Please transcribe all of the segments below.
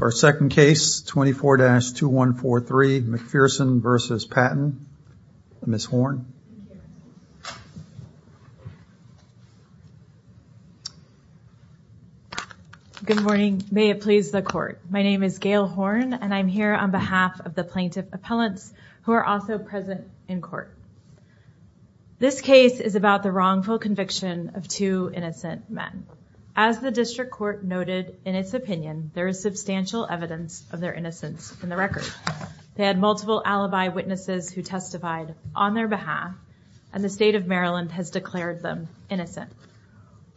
Our second case, 24-2143 McPherson v. Patton, Ms. Horne. Good morning, may it please the court. My name is Gail Horne and I'm here on behalf of the plaintiff appellants who are also present in court. This case is about the wrongful conviction of two innocent men. As the district court noted in its opinion, there is substantial evidence of their innocence in the record. They had multiple alibi witnesses who testified on their behalf and the state of Maryland has declared them innocent.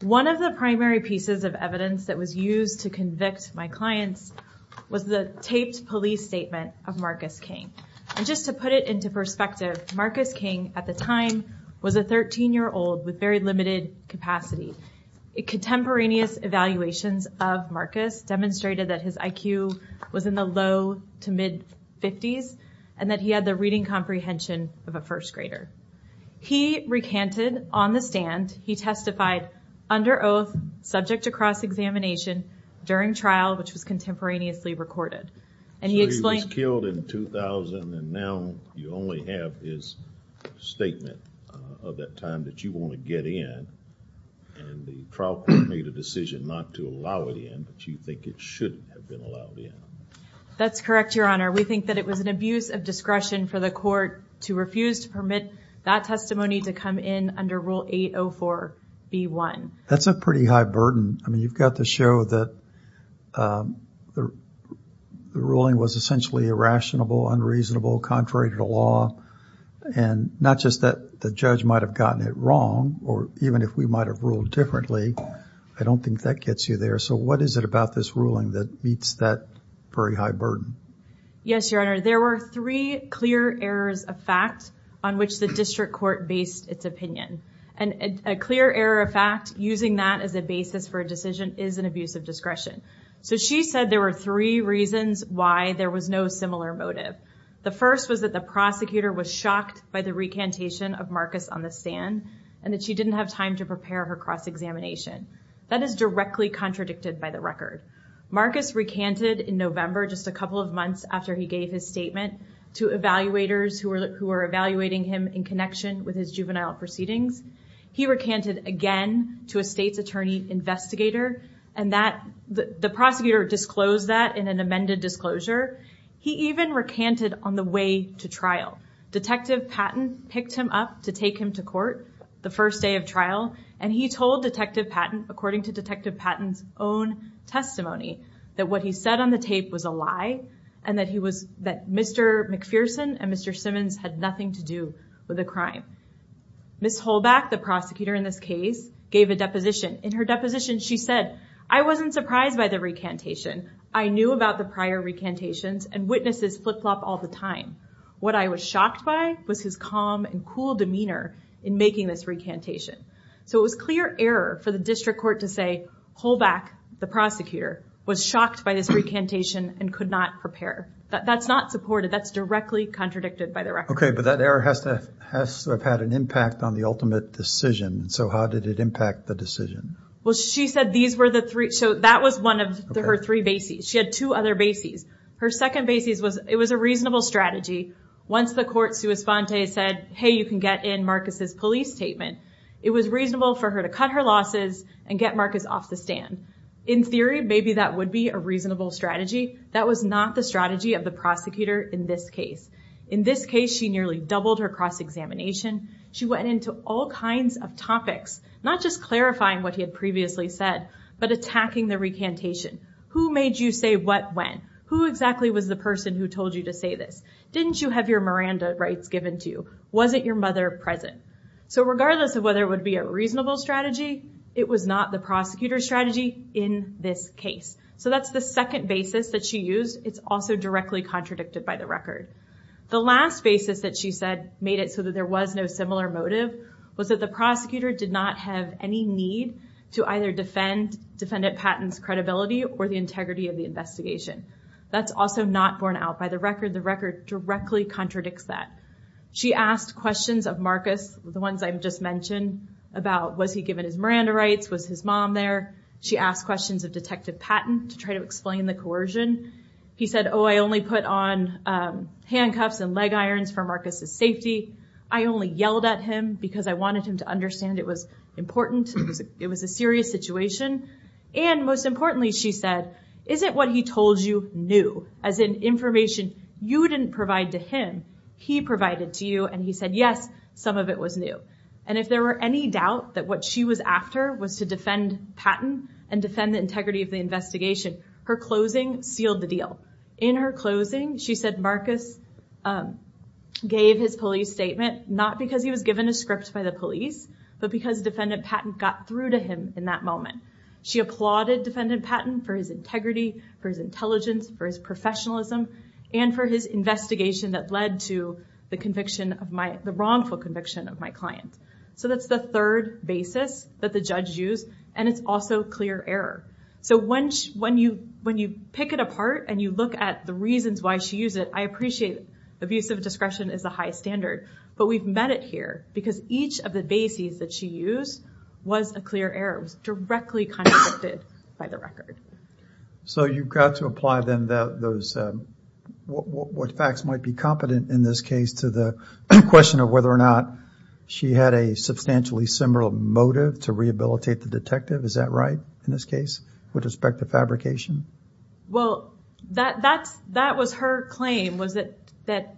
One of the primary pieces of evidence that was used to convict my clients was the taped police statement of Marcus King. And just to put it into perspective, Marcus King at the time was a 13-year-old with very limited capacity. Contemporaneous evaluations of Marcus demonstrated that his IQ was in the low to mid-50s and that he had the reading comprehension of a first grader. He recanted on the stand, he testified under oath subject to cross-examination during trial which was contemporaneously recorded. So he was killed in 2000 and now you only have his statement of that time that you want to get in. And the trial court made a decision not to allow it in, but you think it should have been allowed in. That's correct, Your Honor. We think that it was an abuse of discretion for the court to refuse to permit that testimony to come in under Rule 804B1. That's a pretty high burden. I mean, you've got to show that the ruling was essentially irrationable, unreasonable, contrary to the law. And not just that the judge might have gotten it wrong or even if we might have ruled differently. I don't think that gets you there. So what is it about this ruling that meets that very high burden? Yes, Your Honor. There were three clear errors of fact on which the district court based its opinion. And a clear error of fact using that as a basis for a decision is an abuse of discretion. So she said there were three reasons why there was no similar motive. The first was that the prosecutor was shocked by the recantation of Marcus on the stand and that she didn't have time to prepare her cross-examination. That is directly contradicted by the record. Marcus recanted in November just a couple of months after he gave his statement to evaluators who were evaluating him in connection with his juvenile proceedings. He recanted again to a state's attorney investigator and the prosecutor disclosed that in an amended disclosure. He even recanted on the way to trial. Detective Patton picked him up to take him to court the first day of trial. And he told Detective Patton according to Detective Patton's own testimony that what he said on the tape was a lie. And that he was that Mr. McPherson and Mr. Simmons had nothing to do with the crime. Ms. Holback, the prosecutor in this case, gave a deposition. In her deposition she said, I wasn't surprised by the recantation. I knew about the prior recantations and witnesses flip-flop all the time. What I was shocked by was his calm and cool demeanor in making this recantation. So it was clear error for the district court to say, Holback, the prosecutor, was shocked by this recantation and could not prepare. That's not supported, that's directly contradicted by the record. Okay, but that error has to have had an impact on the ultimate decision. So how did it impact the decision? Well, she said these were the three, so that was one of her three bases. She had two other bases. Her second basis was, it was a reasonable strategy. Once the court sua sponte said, hey, you can get in Marcus's police statement. It was reasonable for her to cut her losses and get Marcus off the stand. In theory, maybe that would be a reasonable strategy. That was not the strategy of the prosecutor in this case. In this case, she nearly doubled her cross-examination. She went into all kinds of topics, not just clarifying what he had previously said, but attacking the recantation. Who made you say what when? Who exactly was the person who told you to say this? Didn't you have your Miranda rights given to you? Wasn't your mother present? So regardless of whether it would be a reasonable strategy, it was not the prosecutor's strategy in this case. So that's the second basis that she used. It's also directly contradicted by the record. The last basis that she said made it so that there was no similar motive was that the prosecutor did not have any need to either defend defendant Patton's credibility or the integrity of the investigation. That's also not borne out by the record. The record directly contradicts that. She asked questions of Marcus, the ones I just mentioned, about was he given his Miranda rights? Was his mom there? She asked questions of Detective Patton to try to explain the coercion. He said, oh, I only put on handcuffs and leg irons for Marcus's safety. I only yelled at him because I wanted him to understand it was important. It was a serious situation. And most importantly, she said, is it what he told you new? As in information you didn't provide to him, he provided to you. And he said, yes, some of it was new. And if there were any doubt that what she was after was to defend Patton and defend the integrity of the investigation, her closing sealed the deal. In her closing, she said Marcus gave his police statement not because he was given a script by the police, but because defendant Patton got through to him in that moment. She applauded defendant Patton for his integrity, for his intelligence, for his professionalism, and for his investigation that led to the wrongful conviction of my client. So that's the third basis that the judge used. And it's also clear error. So when you pick it apart and you look at the reasons why she used it, I appreciate abusive discretion is a high standard. But we've met it here because each of the bases that she used was a clear error. It was directly contradicted by the record. So you've got to apply then what facts might be competent in this case to the question of whether or not she had a substantially similar motive to rehabilitate the detective. Is that right in this case with respect to fabrication? Well, that was her claim was that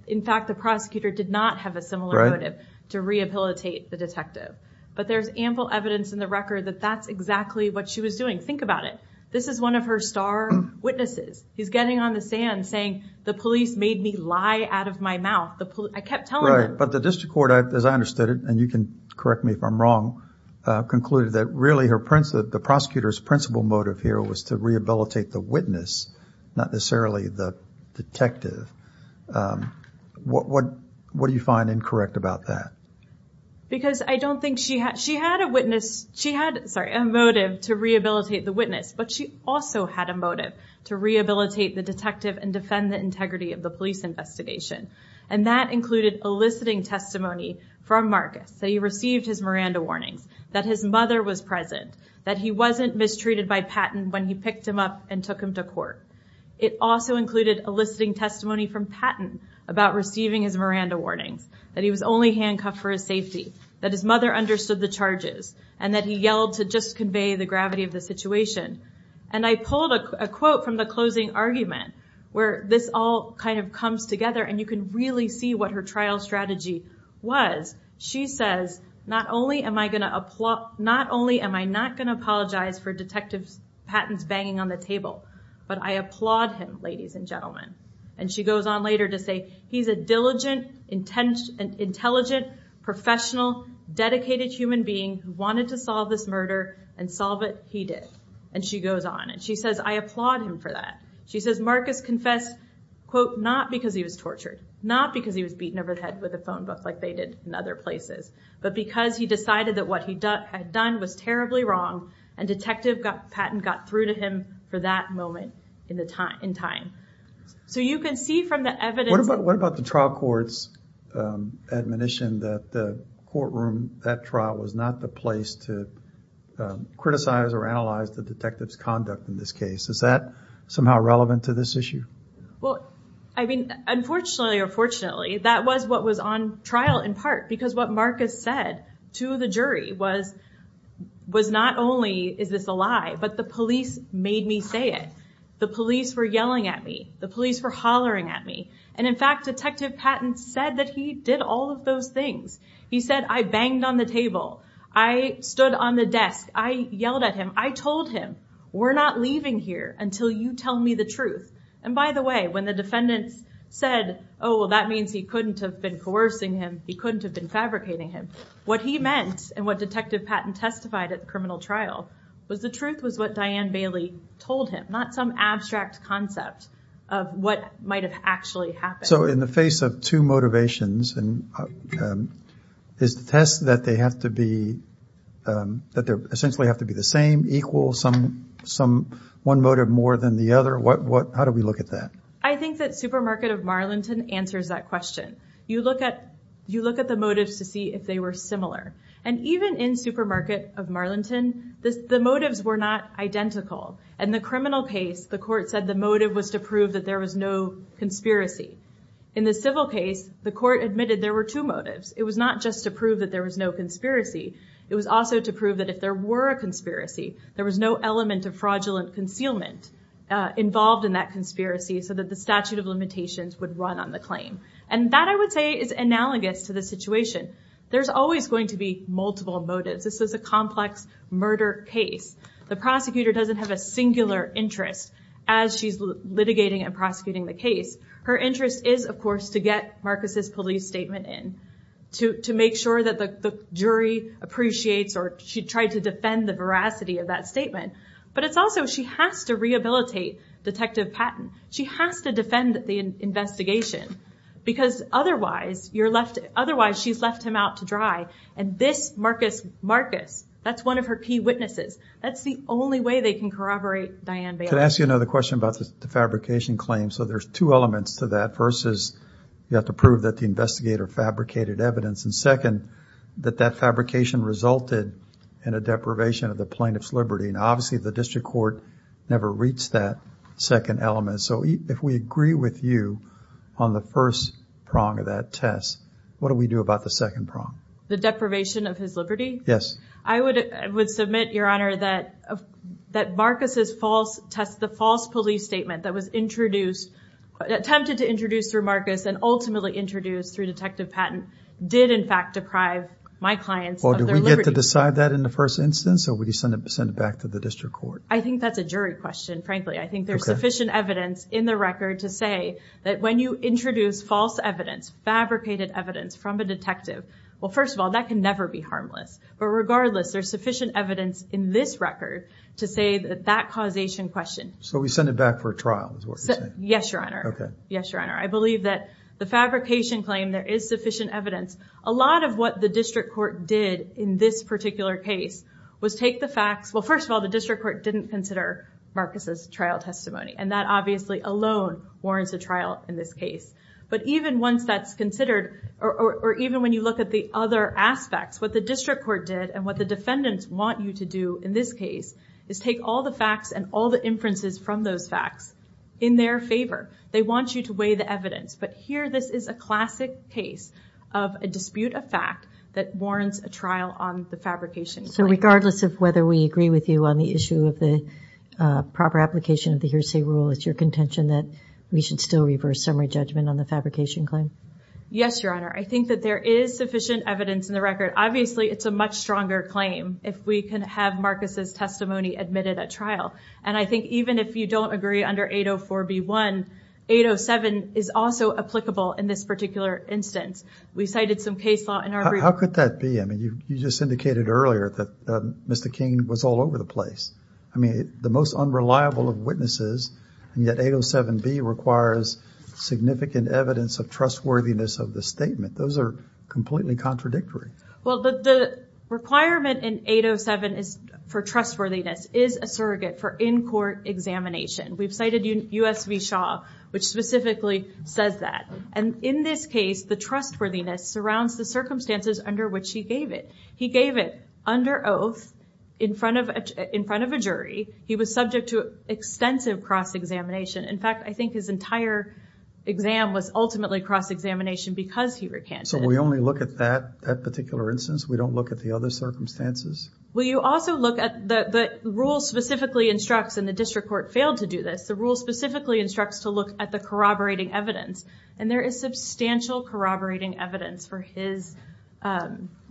in fact the prosecutor did not have a similar motive to rehabilitate the detective. But there's ample evidence in the record that that's exactly what she was doing. Think about it. This is one of her star witnesses. He's getting on the sand saying the police made me lie out of my mouth. I kept telling them. But the district court, as I understood it, and you can correct me if I'm wrong, concluded that really the prosecutor's principal motive here was to rehabilitate the witness, not necessarily the detective. What do you find incorrect about that? Because I don't think she had a motive to rehabilitate the witness, but she also had a motive to rehabilitate the detective and defend the integrity of the police investigation. And that included eliciting testimony from Marcus that he received his Miranda warnings, that his mother was present, that he wasn't mistreated by Patton when he picked him up and took him to court. It also included eliciting testimony from Patton about receiving his Miranda warnings, that he was only handcuffed for his safety, that his mother understood the charges, and that he yelled to just convey the gravity of the situation. And I pulled a quote from the closing argument where this all kind of comes together and you can really see what her trial strategy was. She says, not only am I not going to apologize for Detective Patton's banging on the table, but I applaud him, ladies and gentlemen. And she goes on later to say, he's a diligent, intelligent, professional, dedicated human being who wanted to solve this murder, and solve it he did. And she goes on, and she says, I applaud him for that. She says, Marcus confessed, quote, not because he was tortured, not because he was beaten over the head with a phone book like they did in other places, but because he decided that what he had done was terribly wrong, and Detective Patton got through to him for that moment in time. So you can see from the evidence... What about the trial court's admonition that the courtroom, that trial, was not the place to criticize or analyze the detective's conduct in this case? Is that somehow relevant to this issue? Well, I mean, unfortunately or fortunately, that was what was on trial in part, because what Marcus said to the jury was not only is this a lie, but the police made me say it. The police were yelling at me. The police were hollering at me. And in fact, Detective Patton said that he did all of those things. He said, I banged on the table. I stood on the desk. I yelled at him. I told him, we're not leaving here until you tell me the truth. And by the way, when the defendants said, oh, that means he couldn't have been coercing him, he couldn't have been fabricating him, what he meant and what Detective Patton testified at the criminal trial was the truth was what Diane Bailey told him, not some abstract concept of what might have actually happened. So in the face of two motivations, and is the test that they have to be, that they essentially have to be the same, equal, some one motive more than the other? How do we look at that? I think that Supermarket of Marlington answers that question. You look at the motives to see if they were similar. And even in Supermarket of Marlington, the motives were not identical. In the criminal case, the court said the motive was to prove that there was no conspiracy. In the civil case, the court admitted there were two motives. It was not just to prove that there was no conspiracy. It was also to prove that if there were a conspiracy, there was no element of fraudulent concealment involved in that conspiracy so that the statute of limitations would run on the claim. And that, I would say, is analogous to the situation. There's always going to be multiple motives. This is a complex murder case. The prosecutor doesn't have a singular interest as she's litigating and prosecuting the case. Her interest is, of course, to get Marcus' police statement in, to make sure that the jury appreciates or she tried to defend the veracity of that statement. But it's also she has to rehabilitate Detective Patton. She has to defend the investigation because otherwise she's left him out to dry. And this Marcus Marcus, that's one of her key witnesses. That's the only way they can corroborate Diane Bailey. Can I ask you another question about the fabrication claim? So there's two elements to that. First is you have to prove that the investigator fabricated evidence. And second, that that fabrication resulted in a deprivation of the plaintiff's liberty. And obviously the district court never reached that second element. So if we agree with you on the first prong of that test, what do we do about the second prong? The deprivation of his liberty? Yes. I would submit, Your Honor, that Marcus' false test, attempted to introduce through Marcus and ultimately introduced through Detective Patton, did in fact deprive my clients of their liberty. Do we get to decide that in the first instance or would you send it back to the district court? I think that's a jury question, frankly. I think there's sufficient evidence in the record to say that when you introduce false evidence, fabricated evidence from a detective, well, first of all, that can never be harmless. But regardless, there's sufficient evidence in this record to say that that causation question So we send it back for trial is what you're saying? Yes, Your Honor. Yes, Your Honor. I believe that the fabrication claim, there is sufficient evidence. A lot of what the district court did in this particular case was take the facts. Well, first of all, the district court didn't consider Marcus' trial testimony. And that obviously alone warrants a trial in this case. But even once that's considered, or even when you look at the other aspects, what the district court did and what the defendants want you to do in this case is take all the facts and all the inferences from those facts in their favor. They want you to weigh the evidence. But here this is a classic case of a dispute of fact that warrants a trial on the fabrication claim. So regardless of whether we agree with you on the issue of the proper application of the hearsay rule, it's your contention that we should still reverse summary judgment on the fabrication claim? Yes, Your Honor. I think that there is sufficient evidence in the record. Obviously, it's a much stronger claim if we can have Marcus' testimony admitted at trial. And I think even if you don't agree under 804B1, 807 is also applicable in this particular instance. We cited some case law in our brief. How could that be? I mean, you just indicated earlier that Mr. King was all over the place. I mean, the most unreliable of witnesses, and yet 807B requires significant evidence of trustworthiness of the statement. Those are completely contradictory. Well, the requirement in 807 for trustworthiness is a surrogate for in-court examination. We've cited U.S. v. Shaw, which specifically says that. And in this case, the trustworthiness surrounds the circumstances under which he gave it. He gave it under oath in front of a jury. He was subject to extensive cross-examination. In fact, I think his entire exam was ultimately cross-examination because he recanted. So we only look at that particular instance? We don't look at the other circumstances? Well, you also look at the rule specifically instructs, and the district court failed to do this, the rule specifically instructs to look at the corroborating evidence. And there is substantial corroborating evidence for his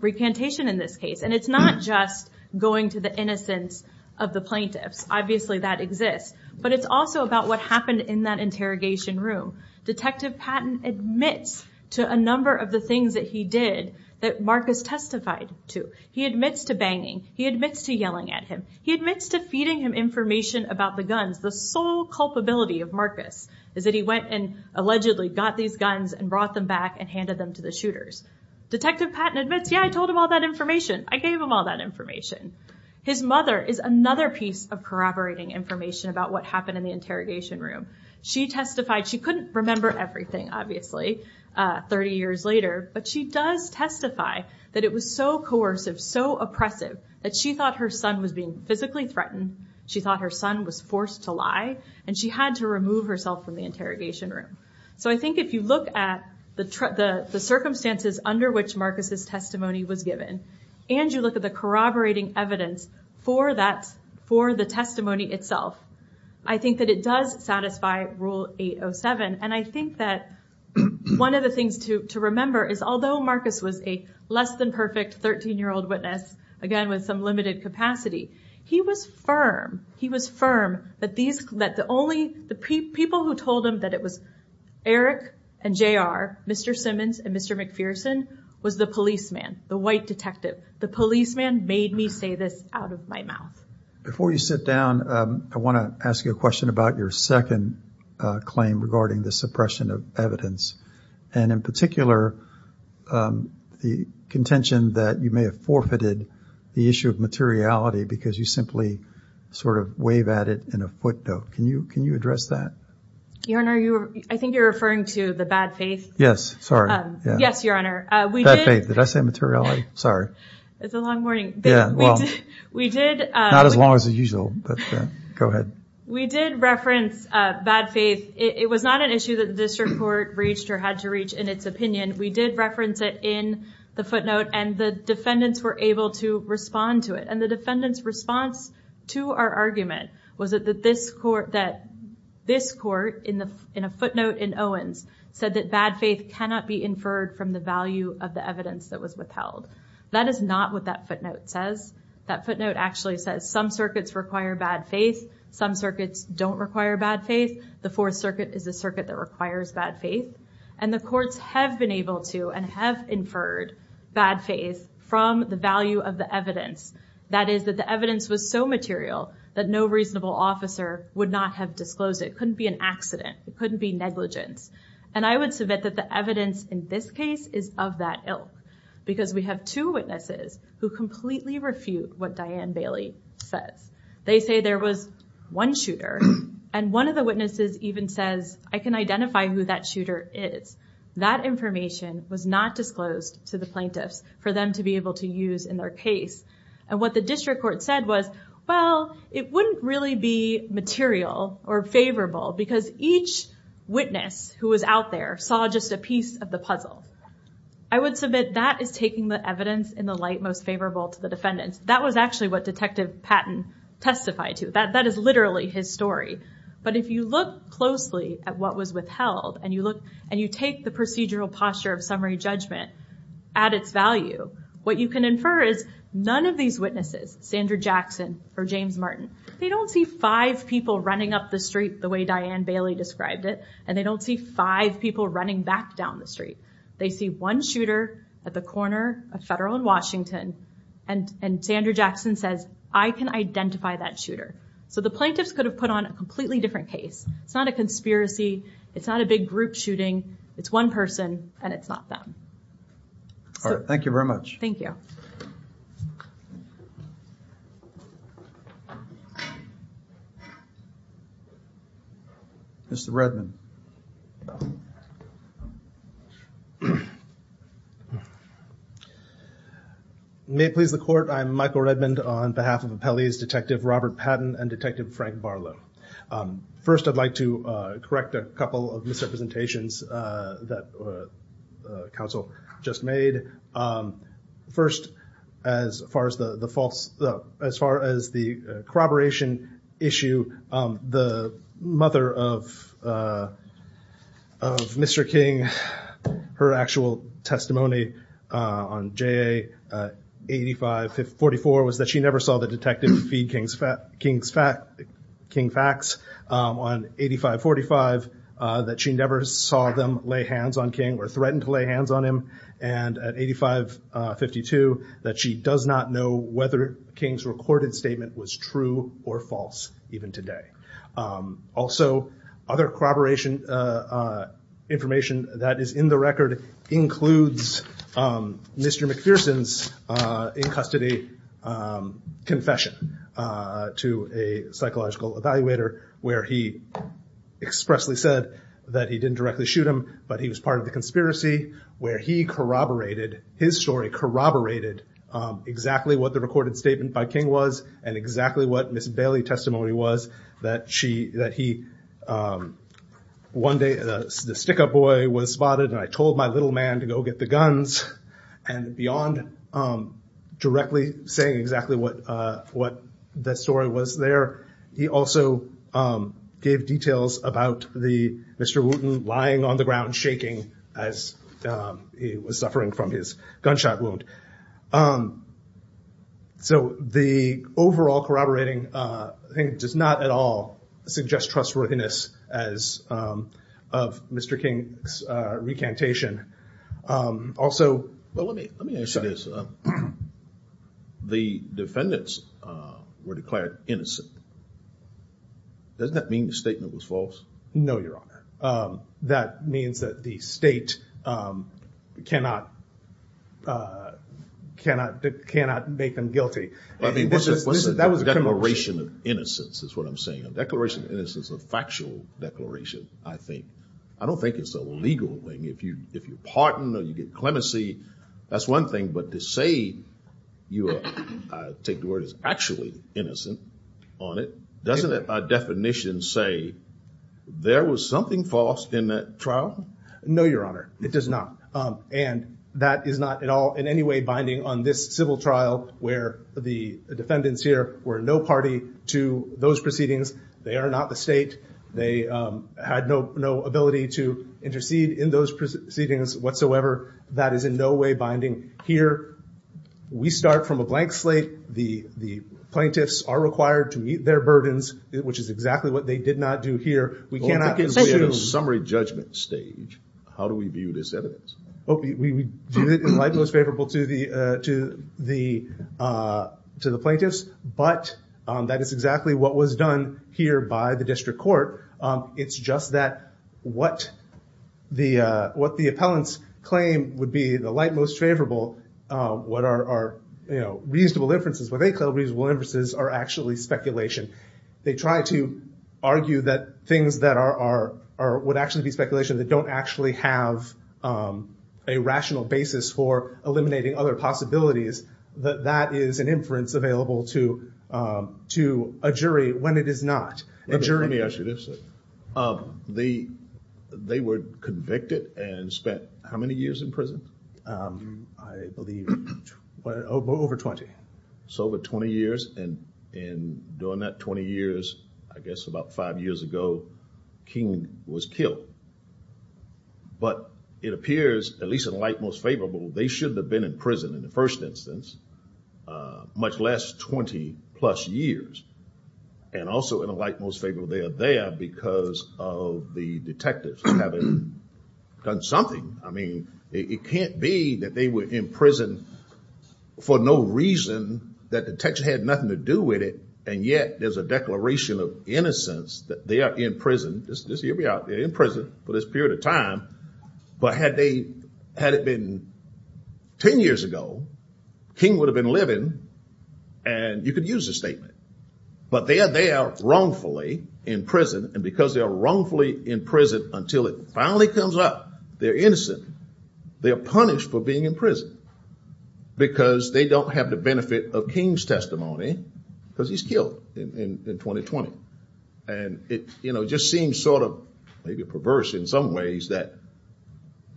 recantation in this case. And it's not just going to the innocence of the plaintiffs. Obviously that exists. But it's also about what happened in that interrogation room. Detective Patton admits to a number of the things that he did that Marcus testified to. He admits to banging. He admits to yelling at him. He admits to feeding him information about the guns. The sole culpability of Marcus is that he went and allegedly got these guns and brought them back and handed them to the shooters. Detective Patton admits, yeah, I told him all that information. I gave him all that information. His mother is another piece of corroborating information about what happened in the interrogation room. She testified. She couldn't remember everything, obviously, 30 years later. But she does testify that it was so coercive, so oppressive, that she thought her son was being physically threatened. She thought her son was forced to lie. And she had to remove herself from the interrogation room. So I think if you look at the circumstances under which Marcus's testimony was given and you look at the corroborating evidence for the testimony itself, I think that it does satisfy Rule 807. And I think that one of the things to remember is although Marcus was a less than perfect 13-year-old witness, again, with some limited capacity, he was firm. He was firm that the people who told him that it was Eric and JR, Mr. Simmons and Mr. McPherson, was the policeman, the white detective. The policeman made me say this out of my mouth. Before you sit down, I want to ask you a question about your second claim regarding the suppression of evidence. And in particular, the contention that you may have forfeited the issue of materiality because you simply sort of wave at it in a footnote. Can you address that? Your Honor, I think you're referring to the bad faith. Yes, sorry. Yes, Your Honor. Bad faith. Did I say materiality? Sorry. It's a long warning. Not as long as usual, but go ahead. We did reference bad faith. It was not an issue that the district court reached or had to reach in its opinion. We did reference it in the footnote, and the defendants were able to respond to it. And the defendant's response to our argument was that this court in a footnote in Owens said that bad faith cannot be inferred from the value of the evidence that was withheld. That is not what that footnote says. That footnote actually says some circuits require bad faith, some circuits don't require bad faith. The Fourth Circuit is the circuit that requires bad faith. And the courts have been able to and have inferred bad faith from the value of the evidence. That is that the evidence was so material that no reasonable officer would not have disclosed it. It couldn't be an accident. It couldn't be negligence. And I would submit that the evidence in this case is of that ilk. Because we have two witnesses who completely refute what Diane Bailey says. They say there was one shooter, and one of the witnesses even says, I can identify who that shooter is. That information was not disclosed to the plaintiffs for them to be able to use in their case. And what the district court said was, well, it wouldn't really be material or favorable because each witness who was out there saw just a piece of the puzzle. I would submit that is taking the evidence in the light most favorable to the defendants. That was actually what Detective Patton testified to. That is literally his story. But if you look closely at what was withheld, and you take the procedural posture of summary judgment at its value, what you can infer is none of these witnesses, Sandra Jackson or James Martin, they don't see five people running up the street the way Diane Bailey described it, and they don't see five people running back down the street. They see one shooter at the corner of Federal and Washington, and Sandra Jackson says, I can identify that shooter. So the plaintiffs could have put on a completely different case. It's not a conspiracy. It's not a big group shooting. It's one person, and it's not them. All right. Thank you very much. Thank you. Mr. Redmond. May it please the Court. I'm Michael Redmond on behalf of Appellee's Detective Robert Patton and Detective Frank Barlow. First, I'd like to correct a couple of misrepresentations that counsel just made. First, as far as the corroboration issue, the mother of Mr. King, her actual testimony on J.A. 8544 was that she never saw the detective feed King Fax on 8545, that she never saw them lay hands on King or threaten to lay hands on him, and at 8552 that she does not know whether King's recorded statement was true or false, even today. Also, other corroboration information that is in the record includes Mr. McPherson's in-custody confession to a psychological evaluator where he expressly said that he didn't directly shoot him, but he was part of the conspiracy where he corroborated, his story corroborated, exactly what the recorded statement by King was and exactly what Ms. Bailey's testimony was, that one day the stick-up boy was spotted and I told my little man to go get the guns, and beyond directly saying exactly what the story was there, he also gave details about Mr. Wooten lying on the ground shaking as he was suffering from his gunshot wound. So the overall corroborating does not at all suggest trustworthiness of Mr. King's recantation. Well, let me ask you this. The defendants were declared innocent. Doesn't that mean the statement was false? No, your honor. That means that the state cannot make them guilty. That was a declaration of innocence is what I'm saying. A declaration of innocence is a factual declaration, I think. I don't think it's a legal thing. If you pardon or you get clemency, that's one thing, but to say you are, I take the word, is actually innocent on it, doesn't it by definition say there was something false in that trial? No, your honor. It does not, and that is not at all in any way binding on this civil trial where the defendants here were no party to those proceedings. They are not the state. They had no ability to intercede in those proceedings whatsoever. That is in no way binding here. We start from a blank slate. The plaintiffs are required to meet their burdens, which is exactly what they did not do here. We cannot get to the summary judgment stage. How do we view this evidence? We view it in light most favorable to the plaintiffs, but that is exactly what was done here by the district court. It's just that what the appellants claim would be the light most favorable, what are reasonable inferences, what they call reasonable inferences, are actually speculation. They try to argue that things that would actually be speculation that don't actually have a rational basis for eliminating other possibilities, that that is an inference available to a jury when it is not. Let me ask you this. They were convicted and spent how many years in prison? I believe over 20. So over 20 years, and during that 20 years, I guess about five years ago, King was killed. But it appears, at least in light most favorable, they should have been in prison in the first instance, much less 20 plus years. And also in a light most favorable, they are there because of the detectives having done something. I mean, it can't be that they were in prison for no reason, that the detectives had nothing to do with it, and yet there's a declaration of innocence that they are in prison for this period of time. But had it been 10 years ago, King would have been living, and you could use the statement. But they are there wrongfully in prison, and because they are wrongfully in prison until it finally comes up, they're innocent. They are punished for being in prison because they don't have the benefit of King's testimony, because he's killed in 2020. And it just seems sort of maybe perverse in some ways that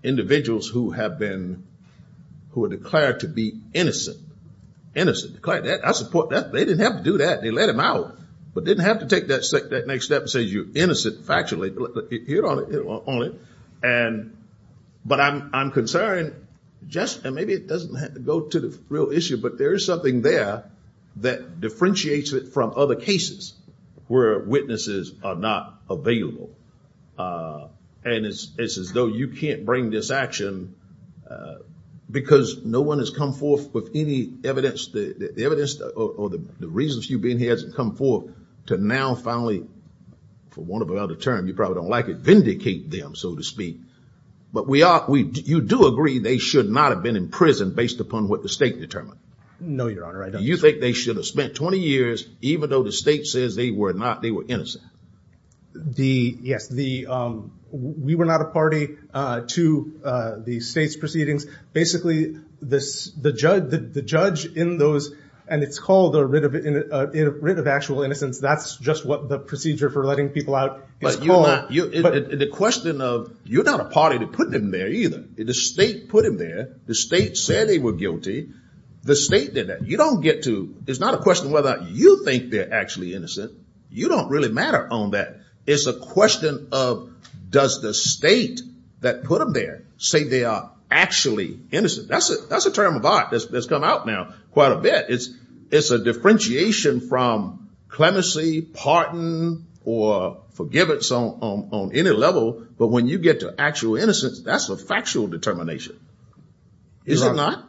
individuals who have been, who are declared to be innocent, innocent, declared that, I support that, they didn't have to do that, they let them out, but didn't have to take that next step and say, you're innocent factually. But I'm concerned, and maybe it doesn't have to go to the real issue, but there is something there that differentiates it from other cases where witnesses are not available. And it's as though you can't bring this action because no one has come forth with any evidence, the evidence or the reasons you've been here hasn't come forth to now finally, for want of another term, you probably don't like it, vindicate them, so to speak. But you do agree they should not have been in prison based upon what the state determined? No, Your Honor, I don't. You think they should have spent 20 years, even though the state says they were not, they were innocent? Yes, we were not a party to the state's proceedings. Basically, the judge in those, and it's called a writ of actual innocence, that's just what the procedure for letting people out is called. But the question of you're not a party to putting them there either. The state put them there. The state said they were guilty. The state did that. You don't get to, it's not a question whether you think they're actually innocent. You don't really matter on that. It's a question of does the state that put them there say they are actually innocent? That's a term of art that's come out now quite a bit. It's a differentiation from clemency, pardon, or forgiveness on any level. But when you get to actual innocence, that's a factual determination. Is it not?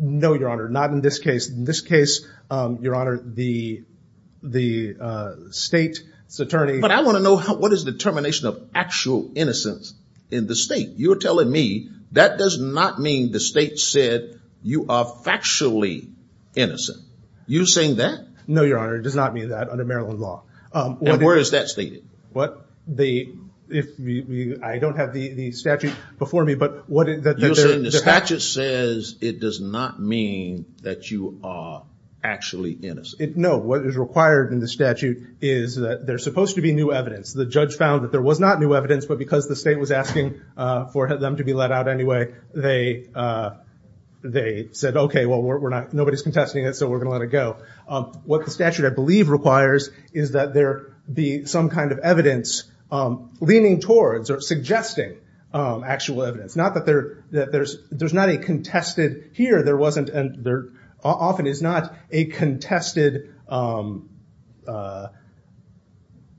No, Your Honor, not in this case. In this case, Your Honor, the state's attorney. But I want to know what is the determination of actual innocence in the state? You're telling me that does not mean the state said you are factually innocent. You're saying that? No, Your Honor, it does not mean that under Maryland law. And where is that stated? I don't have the statute before me, but what is that? You're saying the statute says it does not mean that you are actually innocent. No, what is required in the statute is that there's supposed to be new evidence. The judge found that there was not new evidence, but because the state was asking for them to be let out anyway, they said, okay, nobody's contesting it, so we're going to let it go. What the statute, I believe, requires is that there be some kind of evidence leaning towards or suggesting actual evidence. It's not that there's not a contested here. There often is not a contested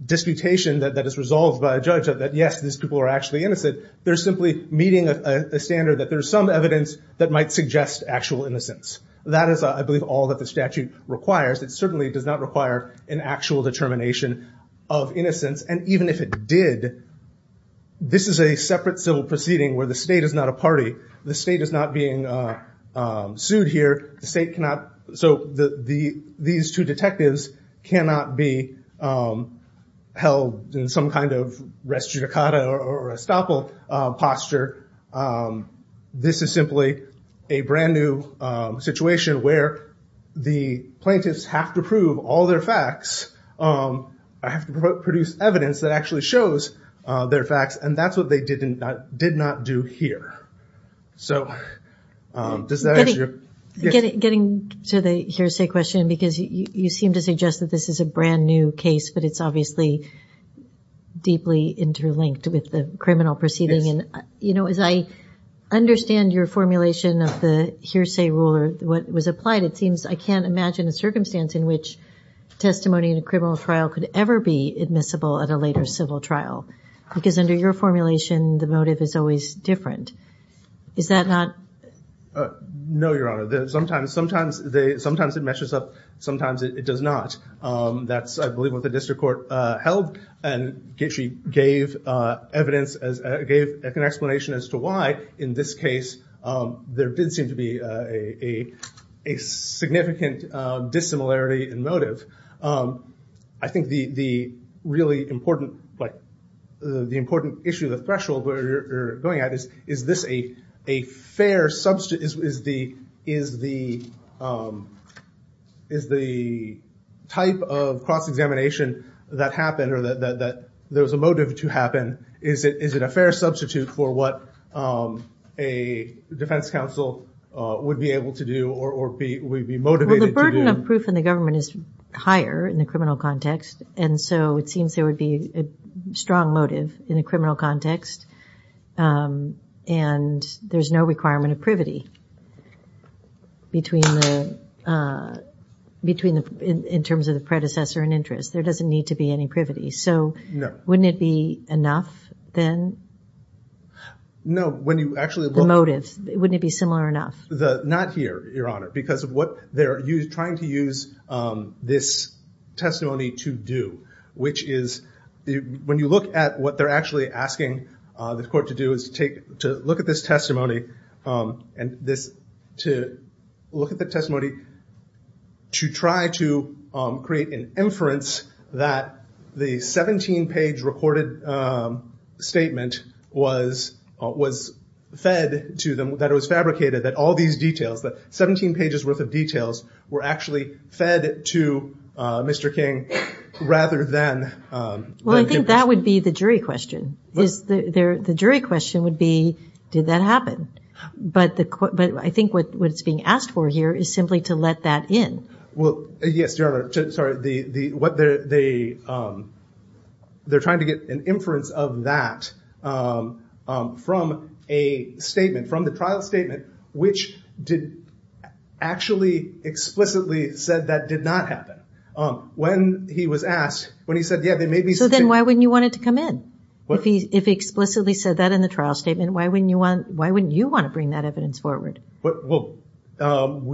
disputation that is resolved by a judge that, yes, these people are actually innocent. They're simply meeting a standard that there's some evidence that might suggest actual innocence. That is, I believe, all that the statute requires. It certainly does not require an actual determination of innocence. Even if it did, this is a separate civil proceeding where the state is not a party. The state is not being sued here. These two detectives cannot be held in some kind of res judicata or estoppel posture. This is simply a brand new situation where the plaintiffs have to prove all their facts. I have to produce evidence that actually shows their facts, and that's what they did not do here. Getting to the hearsay question, because you seem to suggest that this is a brand new case, but it's obviously deeply interlinked with the criminal proceeding. As I understand your formulation of the hearsay rule or what was applied, it seems I can't imagine a circumstance in which testimony in a criminal trial could ever be admissible at a later civil trial, because under your formulation the motive is always different. Is that not? No, Your Honor. Sometimes it meshes up, sometimes it does not. That's, I believe, what the district court held, and she gave an explanation as to why in this case there did seem to be a significant dissimilarity in motive. I think the really important issue, the threshold you're going at, is this a fair substitute? Is the type of cross-examination that happened or that there was a motive to happen, is it a fair substitute for what a defense counsel would be able to do or would be motivated to do? The proof in the government is higher in the criminal context, and so it seems there would be a strong motive in the criminal context, and there's no requirement of privity in terms of the predecessor in interest. There doesn't need to be any privity. So wouldn't it be enough then? No. The motive, wouldn't it be similar enough? Not here, Your Honor, because of what they're trying to use this testimony to do, which is when you look at what they're actually asking the court to do is to look at this testimony to try to create an inference that the 17-page recorded statement was fed to them, that it was fabricated, that all these details, that 17 pages worth of details were actually fed to Mr. King rather than him. Well, I think that would be the jury question. The jury question would be, did that happen? But I think what it's being asked for here is simply to let that in. Yes, Your Honor. They're trying to get an inference of that from a statement, from the trial statement, which actually explicitly said that did not happen. When he was asked, when he said, yeah, there may be some changes. So then why wouldn't you want it to come in? If he explicitly said that in the trial statement, why wouldn't you want to bring that evidence forward? Well, once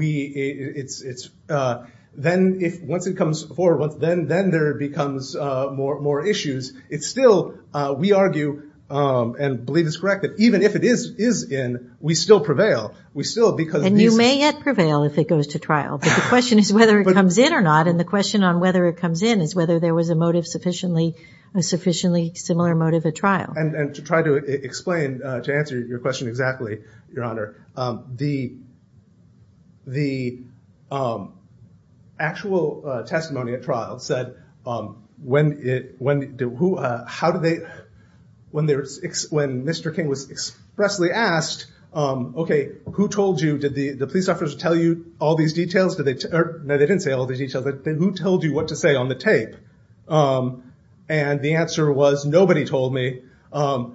it comes forward, then there becomes more issues. It's still, we argue and believe it's correct that even if it is in, we still prevail. And you may yet prevail if it goes to trial. But the question is whether it comes in or not, and the question on whether it comes in is whether there was a motive sufficiently similar motive at trial. And to try to explain, to answer your question exactly, Your Honor, the actual testimony at trial said when Mr. King was expressly asked, okay, who told you, did the police officer tell you all these details? No, they didn't say all these details. Who told you what to say on the tape? And the answer was nobody told me. I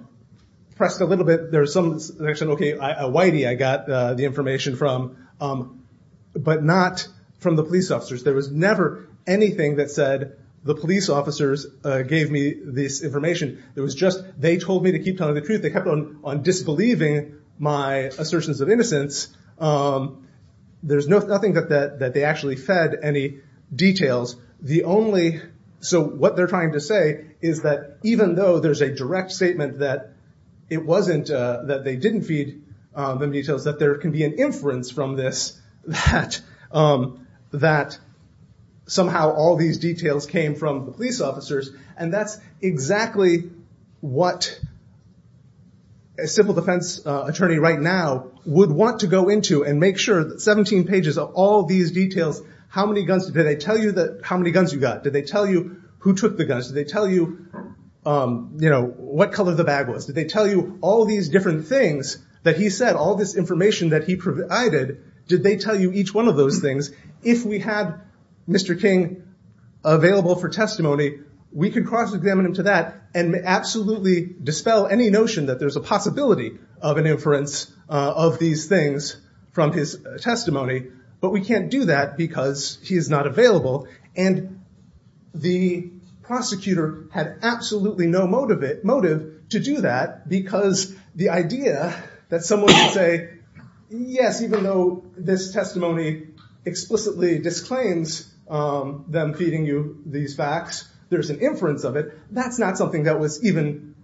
pressed a little bit. There was some, okay, a whitey I got the information from, but not from the police officers. There was never anything that said the police officers gave me this information. It was just they told me to keep telling the truth. They kept on disbelieving my assertions of innocence. There's nothing that they actually fed any details. So what they're trying to say is that even though there's a direct statement that it wasn't that they didn't feed them details, that there can be an inference from this that somehow all these details came from the police officers, and that's exactly what a civil defense attorney right now would want to go into and make sure that 17 pages of all these details, how many guns did they tell you, how many guns you got, did they tell you who took the guns, did they tell you what color the bag was, did they tell you all these different things that he said, all this information that I did, did they tell you each one of those things? If we had Mr. King available for testimony, we could cross-examine him to that and absolutely dispel any notion that there's a possibility of an inference of these things from his testimony, but we can't do that because he is not available, and the prosecutor had absolutely no motive to do that because the idea that someone would say, yes, even though this testimony explicitly disclaims them feeding you these facts, there's an inference of it, that's not something that was even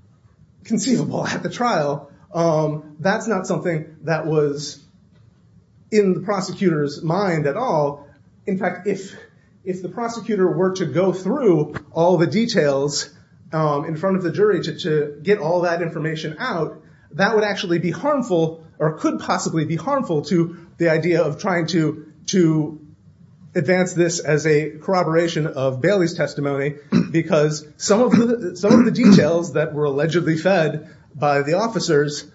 conceivable at the trial. That's not something that was in the prosecutor's mind at all. In fact, if the prosecutor were to go through all the details in front of the jury to get all that information out, that would actually be harmful or could possibly be harmful to the idea of trying to advance this as a corroboration of Bailey's testimony because some of the details that were allegedly fed by the officers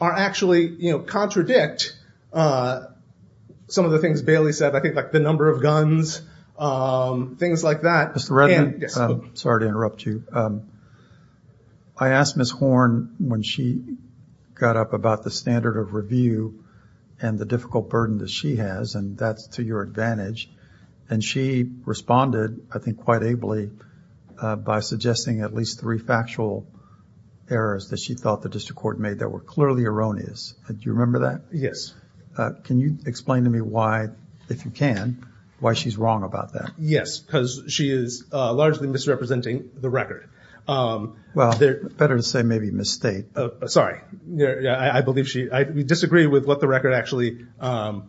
actually contradict some of the things Bailey said, I think like the number of guns, things like that. Mr. Redmond, sorry to interrupt you. I asked Ms. Horn when she got up about the standard of review and the difficult burden that she has, and that's to your advantage, and she responded, I think quite ably, by suggesting at least three factual errors that she thought the district court made that were clearly erroneous. Do you remember that? Yes. Can you explain to me why, if you can, why she's wrong about that? Yes, because she is largely misrepresenting the record. Well, better to say maybe misstate. Sorry, I disagree with what the record actually contains.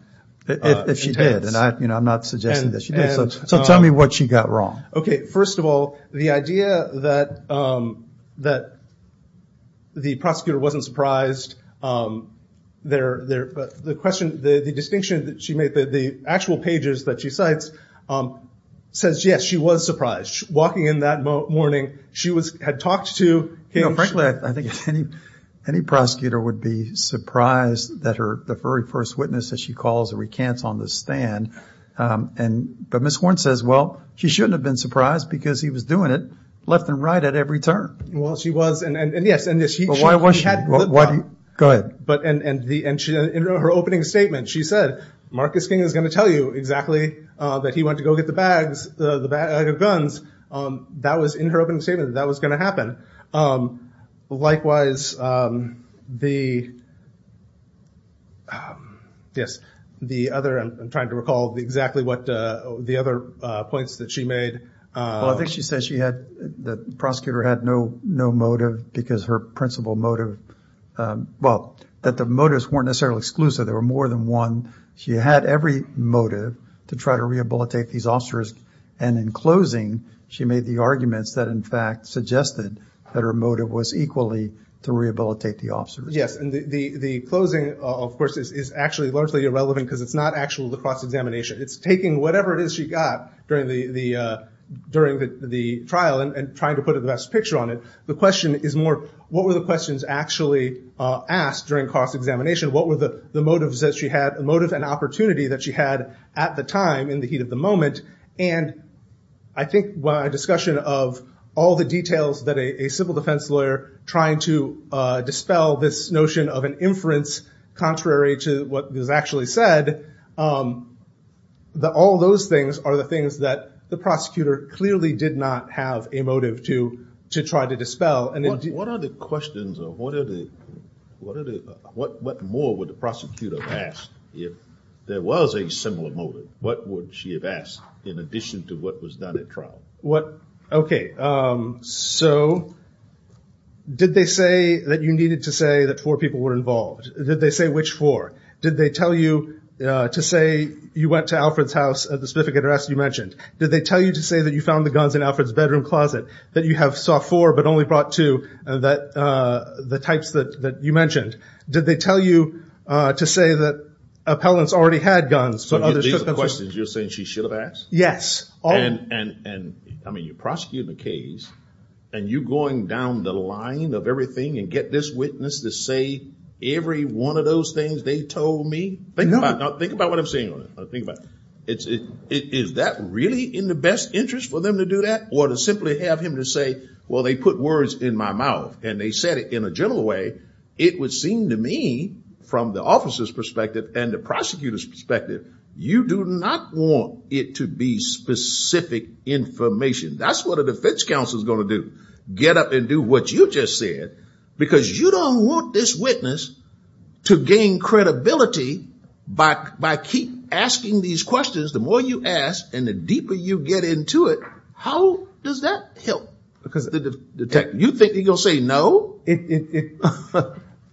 If she did, and I'm not suggesting that she did. So tell me what she got wrong. Okay, first of all, the idea that the prosecutor wasn't surprised, the distinction that she made, the actual pages that she cites says, yes, she was surprised. Walking in that morning, she had talked to him. You know, frankly, I think any prosecutor would be surprised that the very first witness that she calls recants on the stand. But Ms. Horn says, well, she shouldn't have been surprised because he was doing it left and right at every turn. Well, she was, and yes. Why was she? Go ahead. In her opening statement, she said, Marcus King is going to tell you exactly that he went to go get the bags, the guns. That was in her opening statement. That was going to happen. Likewise, the other, I'm trying to recall exactly what the other points that she made. Well, I think she said she had, the prosecutor had no motive because her principal motive, well, that the motives weren't necessarily exclusive. There were more than one. She had every motive to try to rehabilitate these officers, and in closing, she made the arguments that in fact suggested that her motive was equally to rehabilitate the officers. Yes, and the closing, of course, is actually largely irrelevant because it's not actually the cross-examination. It's taking whatever it is she got during the trial and trying to put the best picture on it. The question is more, what were the questions actually asked during cross-examination? What were the motives that she had, the motive and opportunity that she had at the time in the heat of the moment? And I think by discussion of all the details that a civil defense lawyer trying to dispel this notion of an inference, contrary to what was actually said, all those things are the things that the prosecutor clearly did not have a motive to try to dispel. What more would the prosecutor have asked if there was a similar motive? What would she have asked in addition to what was done at trial? Okay, so did they say that you needed to say that four people were involved? Did they say which four? Did they tell you to say you went to Alfred's house at the specific address you mentioned? Did they tell you to say that you found the guns in Alfred's bedroom closet? That you have saw four but only brought two, the types that you mentioned. Did they tell you to say that appellants already had guns but others took them? These are questions you're saying she should have asked? Yes. And you're prosecuting a case and you're going down the line of everything and get this witness to say every one of those things they told me? Think about what I'm saying. Is that really in the best interest for them to do that? Or to simply have him to say, well, they put words in my mouth and they said it in a general way. It would seem to me from the officer's perspective and the prosecutor's perspective, you do not want it to be specific information. That's what a defense counsel is going to do. Get up and do what you just said because you don't want this witness to gain credibility by keep asking these questions. The more you ask and the deeper you get into it, how does that help? Because you think he's going to say no?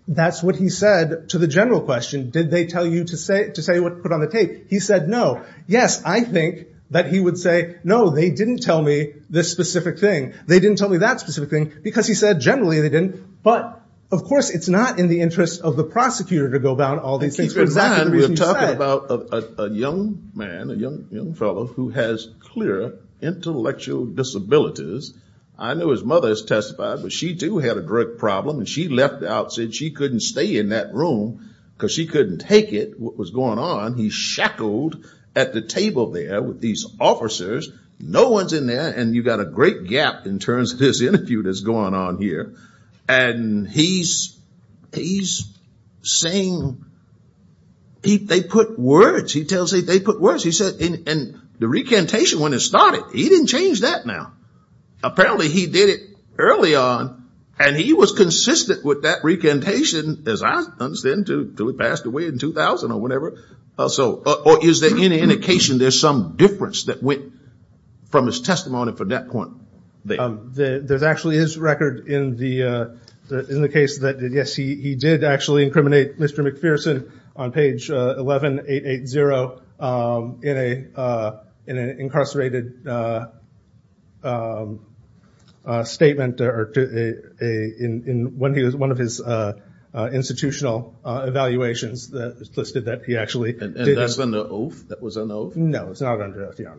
That's what he said to the general question. Did they tell you to say what was put on the tape? He said no. Yes, I think that he would say, no, they didn't tell me this specific thing. They didn't tell me that specific thing because he said generally they didn't. But, of course, it's not in the interest of the prosecutor to go about all these things. Keep in mind we're talking about a young man, a young fellow who has clear intellectual disabilities. I know his mother has testified, but she, too, had a drug problem. She left out, said she couldn't stay in that room because she couldn't take it, what was going on. He's shackled at the table there with these officers. No one's in there, and you've got a great gap in terms of this interview that's going on here. And he's saying they put words. He tells me they put words. And the recantation, when it started, he didn't change that now. Apparently he did it early on, and he was consistent with that recantation, as I understand, until he passed away in 2000 or whatever. Or is there any indication there's some difference that went from his testimony from that point? There actually is record in the case that, yes, he did actually incriminate Mr. McPherson on page 11880 in an incarcerated statement. One of his institutional evaluations listed that he actually did this. And that's an oath? That was an oath? No, it's not an oath, Your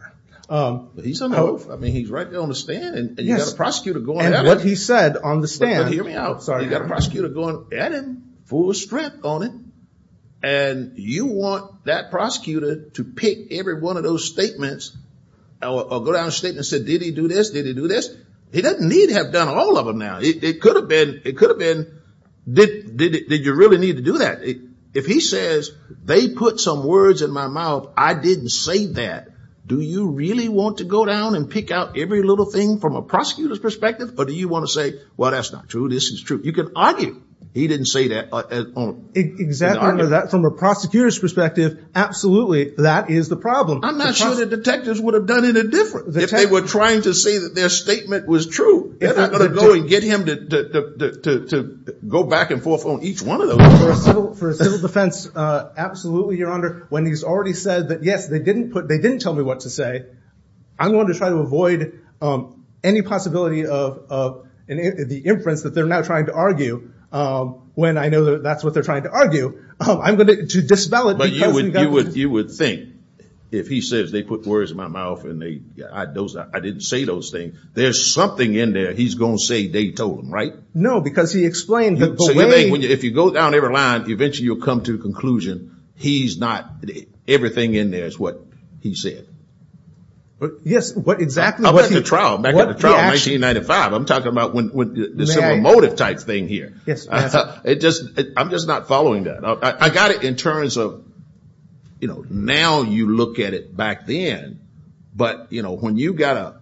Honor. But he's an oath. I mean, he's right there on the stand, and you've got a prosecutor going at him. And what he said on the stand. But hear me out. You've got a prosecutor going at him, full strength on him. And you want that prosecutor to pick every one of those statements or go down a statement and say, did he do this? Did he do this? He doesn't need to have done all of them now. It could have been, did you really need to do that? If he says, they put some words in my mouth, I didn't say that. Do you really want to go down and pick out every little thing from a prosecutor's perspective? Or do you want to say, well, that's not true, this is true? You can argue he didn't say that. Exactly. From a prosecutor's perspective, absolutely, that is the problem. I'm not sure the detectives would have done it any different. If they were trying to say that their statement was true, they're not going to go and get him to go back and forth on each one of those. For civil defense, absolutely, Your Honor. When he's already said that, yes, they didn't tell me what to say, I'm going to try to avoid any possibility of the inference that they're now trying to argue, when I know that's what they're trying to argue, to dispel it. You would think, if he says, they put words in my mouth, and I didn't say those things, there's something in there he's going to say they told him, right? No, because he explained the way. If you go down every line, eventually you'll come to the conclusion he's not, everything in there is what he said. Yes, exactly. Back in the trial in 1995, I'm talking about the similar motive type thing here. Yes, Your Honor. I'm just not following that. I got it in terms of, now you look at it back then, but when you've got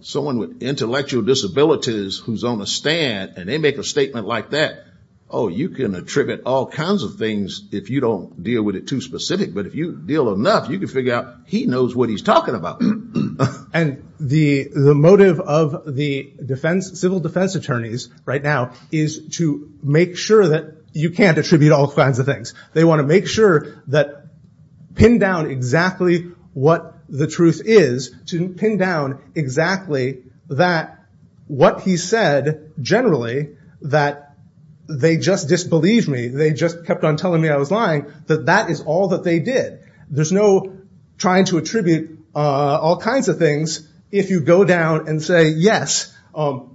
someone with intellectual disabilities who's on a stand, and they make a statement like that, oh, you can attribute all kinds of things if you don't deal with it too specific. But if you deal enough, you can figure out he knows what he's talking about. And the motive of the civil defense attorneys right now is to make sure that you can't attribute all kinds of things. They want to make sure that, pin down exactly what the truth is, to pin down exactly that what he said generally, that they just disbelieved me, they just kept on telling me I was lying, that that is all that they did. There's no trying to attribute all kinds of things if you go down and say, yes,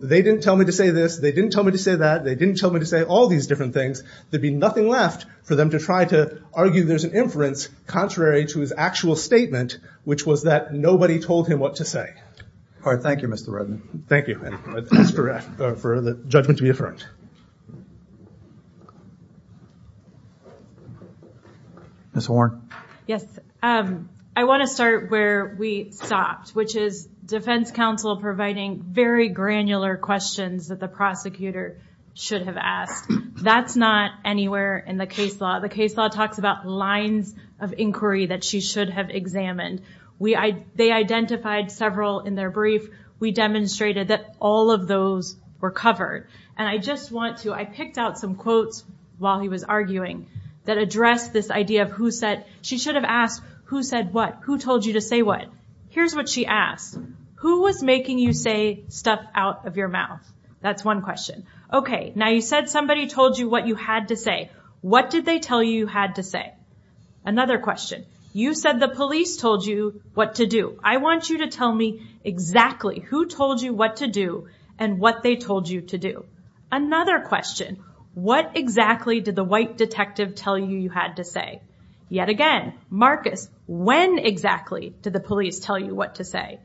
they didn't tell me to say this, they didn't tell me to say that, they didn't tell me to say all these different things. There'd be nothing left for them to try to argue there's an inference contrary to his actual statement, which was that nobody told him what to say. All right, thank you, Mr. Rudman. Thank you. Thanks for the judgment to be affirmed. Next. Ms. Warren. Yes. I want to start where we stopped, which is defense counsel providing very granular questions that the prosecutor should have asked. That's not anywhere in the case law. The case law talks about lines of inquiry that she should have examined. They identified several in their brief. We demonstrated that all of those were covered. And I just want to, I picked out some quotes while he was arguing that addressed this idea of who said, she should have asked who said what, who told you to say what. Here's what she asked. Who was making you say stuff out of your mouth? That's one question. Okay, now you said somebody told you what you had to say. What did they tell you you had to say? Another question. You said the police told you what to do. I want you to tell me exactly who told you what to do and what they told you to do. Another question. What exactly did the white detective tell you you had to say? Yet again, Marcus, when exactly did the police tell you what to say?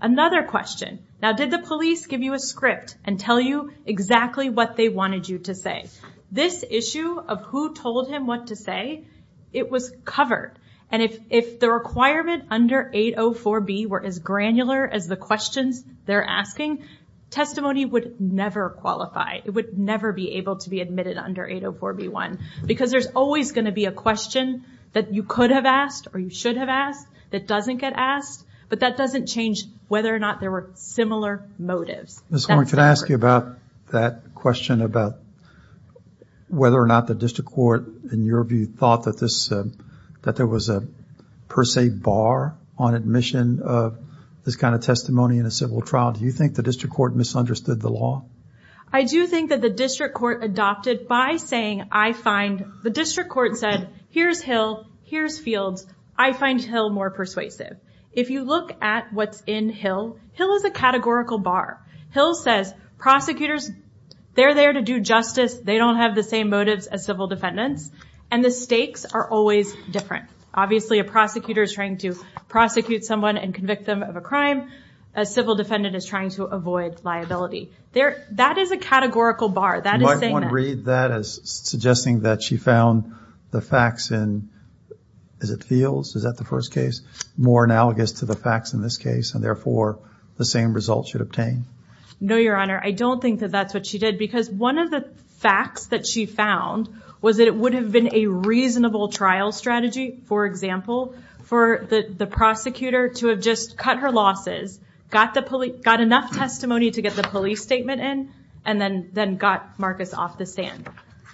Another question. Now, did the police give you a script and tell you exactly what they wanted you to say? This issue of who told him what to say, it was covered. And if the requirement under 804B were as granular as the questions they're asking, testimony would never qualify. It would never be able to be admitted under 804B1. Because there's always going to be a question that you could have asked or you should have asked that doesn't get asked. But that doesn't change whether or not there were similar motives. Ms. Horne, can I ask you about that question about whether or not the district court, in your view, thought that there was a per se bar on admission of this kind of testimony in a civil trial? Do you think the district court misunderstood the law? I do think that the district court adopted by saying I find the district court said here's Hill, here's Fields. I find Hill more persuasive. If you look at what's in Hill, Hill is a categorical bar. Hill says prosecutors, they're there to do justice. They don't have the same motives as civil defendants. And the stakes are always different. Obviously a prosecutor is trying to prosecute someone and convict them of a crime. A civil defendant is trying to avoid liability. That is a categorical bar. That is saying that. Might one read that as suggesting that she found the facts in, is it Fields? Is that the first case? More analogous to the facts in this case and therefore the same results should obtain? No, Your Honor. I don't think that that's what she did. Because one of the facts that she found was that it would have been a reasonable trial strategy, for example, for the prosecutor to have just cut her losses, got enough testimony to get the police statement in, and then got Marcus off the stand.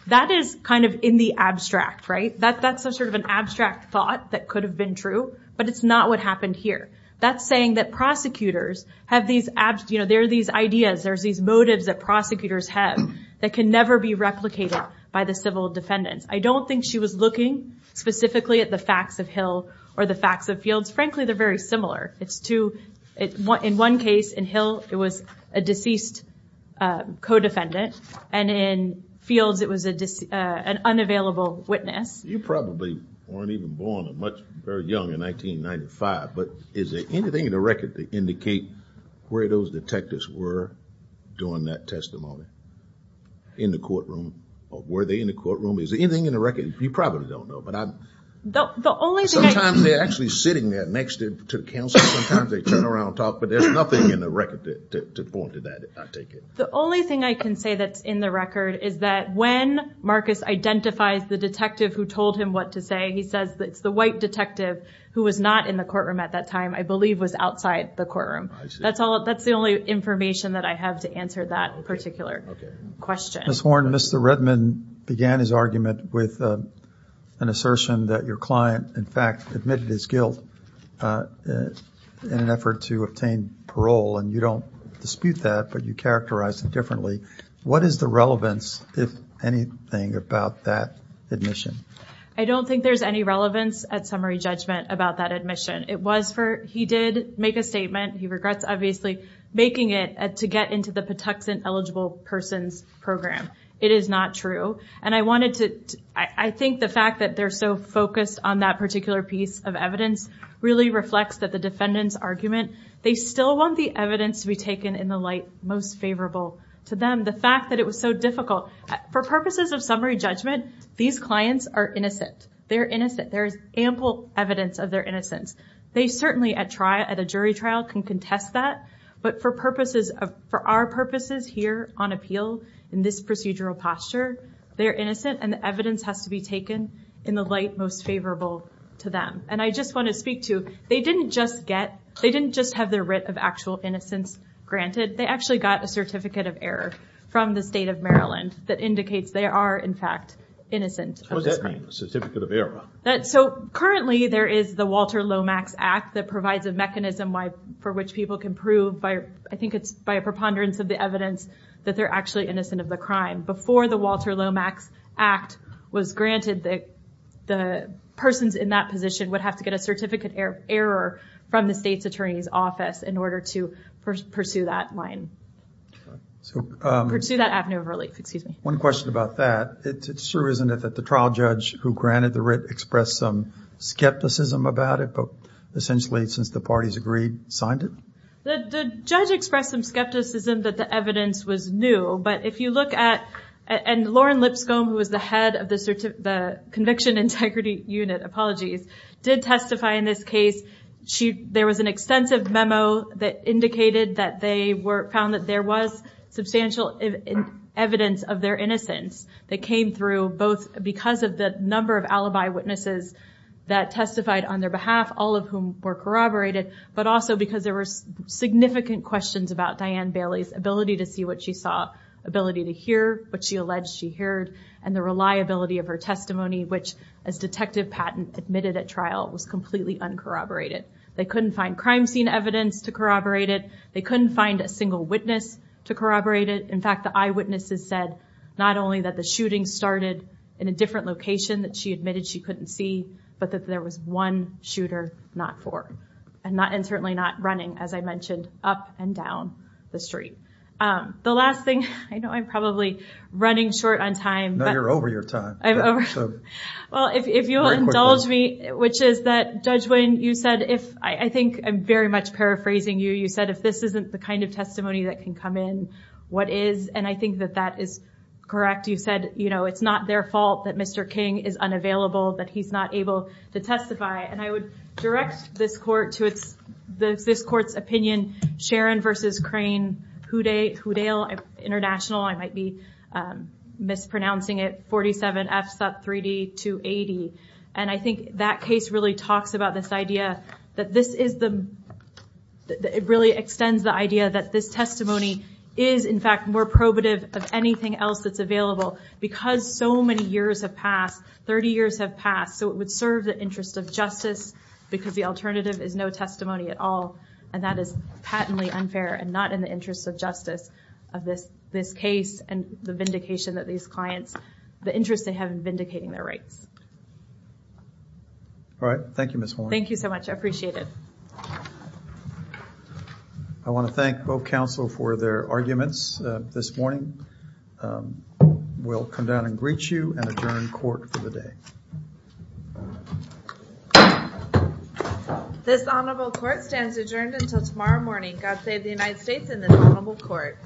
That is kind of in the abstract, right? That's sort of an abstract thought that could have been true. But it's not what happened here. That's saying that prosecutors have these, you know, there are these ideas, there's these motives that prosecutors have that can never be replicated by the civil defendants. I don't think she was looking specifically at the facts of Hill or the facts of Fields. Frankly, they're very similar. In one case, in Hill, it was a deceased co-defendant. And in Fields, it was an unavailable witness. You probably weren't even born or much very young in 1995, but is there anything in the record that indicates where those detectives were during that testimony? In the courtroom? Or were they in the courtroom? Is there anything in the record? You probably don't know. But I'm – The only thing I – Sometimes they're actually sitting there next to counsel. Sometimes they turn around and talk. But there's nothing in the record to point to that, I take it. The only thing I can say that's in the record is that when Marcus identifies the detective who told him what to say, he says it's the white detective who was not in the courtroom at that time, I believe, was outside the courtroom. I see. That's the only information that I have to answer that particular question. Ms. Horn, Mr. Redman began his argument with an assertion that your client, in fact, admitted his guilt in an effort to obtain parole. And you don't dispute that, but you characterize it differently. What is the relevance, if anything, about that admission? I don't think there's any relevance at summary judgment about that admission. It was for – he did make a statement. He regrets, obviously, making it to get into the Patuxent Eligible Persons Program. It is not true. And I wanted to – I think the fact that they're so focused on that particular piece of evidence really reflects that the defendant's argument. They still want the evidence to be taken in the light most favorable to them. The fact that it was so difficult – for purposes of summary judgment, these clients are innocent. They're innocent. There is ample evidence of their innocence. They certainly, at a jury trial, can contest that. But for our purposes here on appeal in this procedural posture, they're innocent, and the evidence has to be taken in the light most favorable to them. And I just want to speak to they didn't just get – they didn't just have their writ of actual innocence granted. They actually got a certificate of error from the state of Maryland that indicates they are, in fact, innocent. What does that mean, a certificate of error? So currently there is the Walter Lomax Act that provides a mechanism for which people can prove, I think it's by a preponderance of the evidence, that they're actually innocent of the crime. Before the Walter Lomax Act was granted, the persons in that position would have to get a certificate of error from the state's attorney's office in order to pursue that line. Pursue that avenue of relief, excuse me. One question about that. It sure isn't it that the trial judge who granted the writ expressed some skepticism about it, but essentially, since the parties agreed, signed it? The judge expressed some skepticism that the evidence was new, but if you look at – and Lauren Lipscomb, who was the head of the Conviction Integrity Unit, apologies, did testify in this case. There was an extensive memo that indicated that they found that there was substantial evidence of their innocence that came through both because of the number of alibi witnesses that testified on their behalf, all of whom were corroborated, but also because there were significant questions about Diane Bailey's ability to see what she saw, ability to hear what she alleged she heard, and the reliability of her testimony, which, as Detective Patton admitted at trial, was completely uncorroborated. They couldn't find crime scene evidence to corroborate it. They couldn't find a single witness to corroborate it. In fact, the eyewitnesses said not only that the shooting started in a different location that she admitted she couldn't see, but that there was one shooter not for – and certainly not running, as I mentioned, up and down the street. The last thing – I know I'm probably running short on time. No, you're over your time. Well, if you'll indulge me, which is that, Judge Winn, you said if – I think I'm very much paraphrasing you. You said if this isn't the kind of testimony that can come in, what is? And I think that that is correct. You said, you know, it's not their fault that Mr. King is unavailable, that he's not able to testify. And I would direct this court to its – this court's opinion, Sharon v. Crane-Hoodale International. I might be mispronouncing it, 47F Sut 3D 280. And I think that case really talks about this idea that this is the – it really extends the idea that this testimony is, in fact, more probative of anything else that's available because so many years have passed, 30 years have passed, so it would serve the interest of justice because the alternative is no testimony at all, and that is patently unfair and not in the interest of justice of this case and the vindication that these clients – the interest they have in vindicating their rights. All right. Thank you, Ms. Horne. Thank you so much. I appreciate it. I want to thank both counsel for their arguments this morning. We'll come down and greet you and adjourn court for the day. This honorable court stands adjourned until tomorrow morning. God save the United States and this honorable court.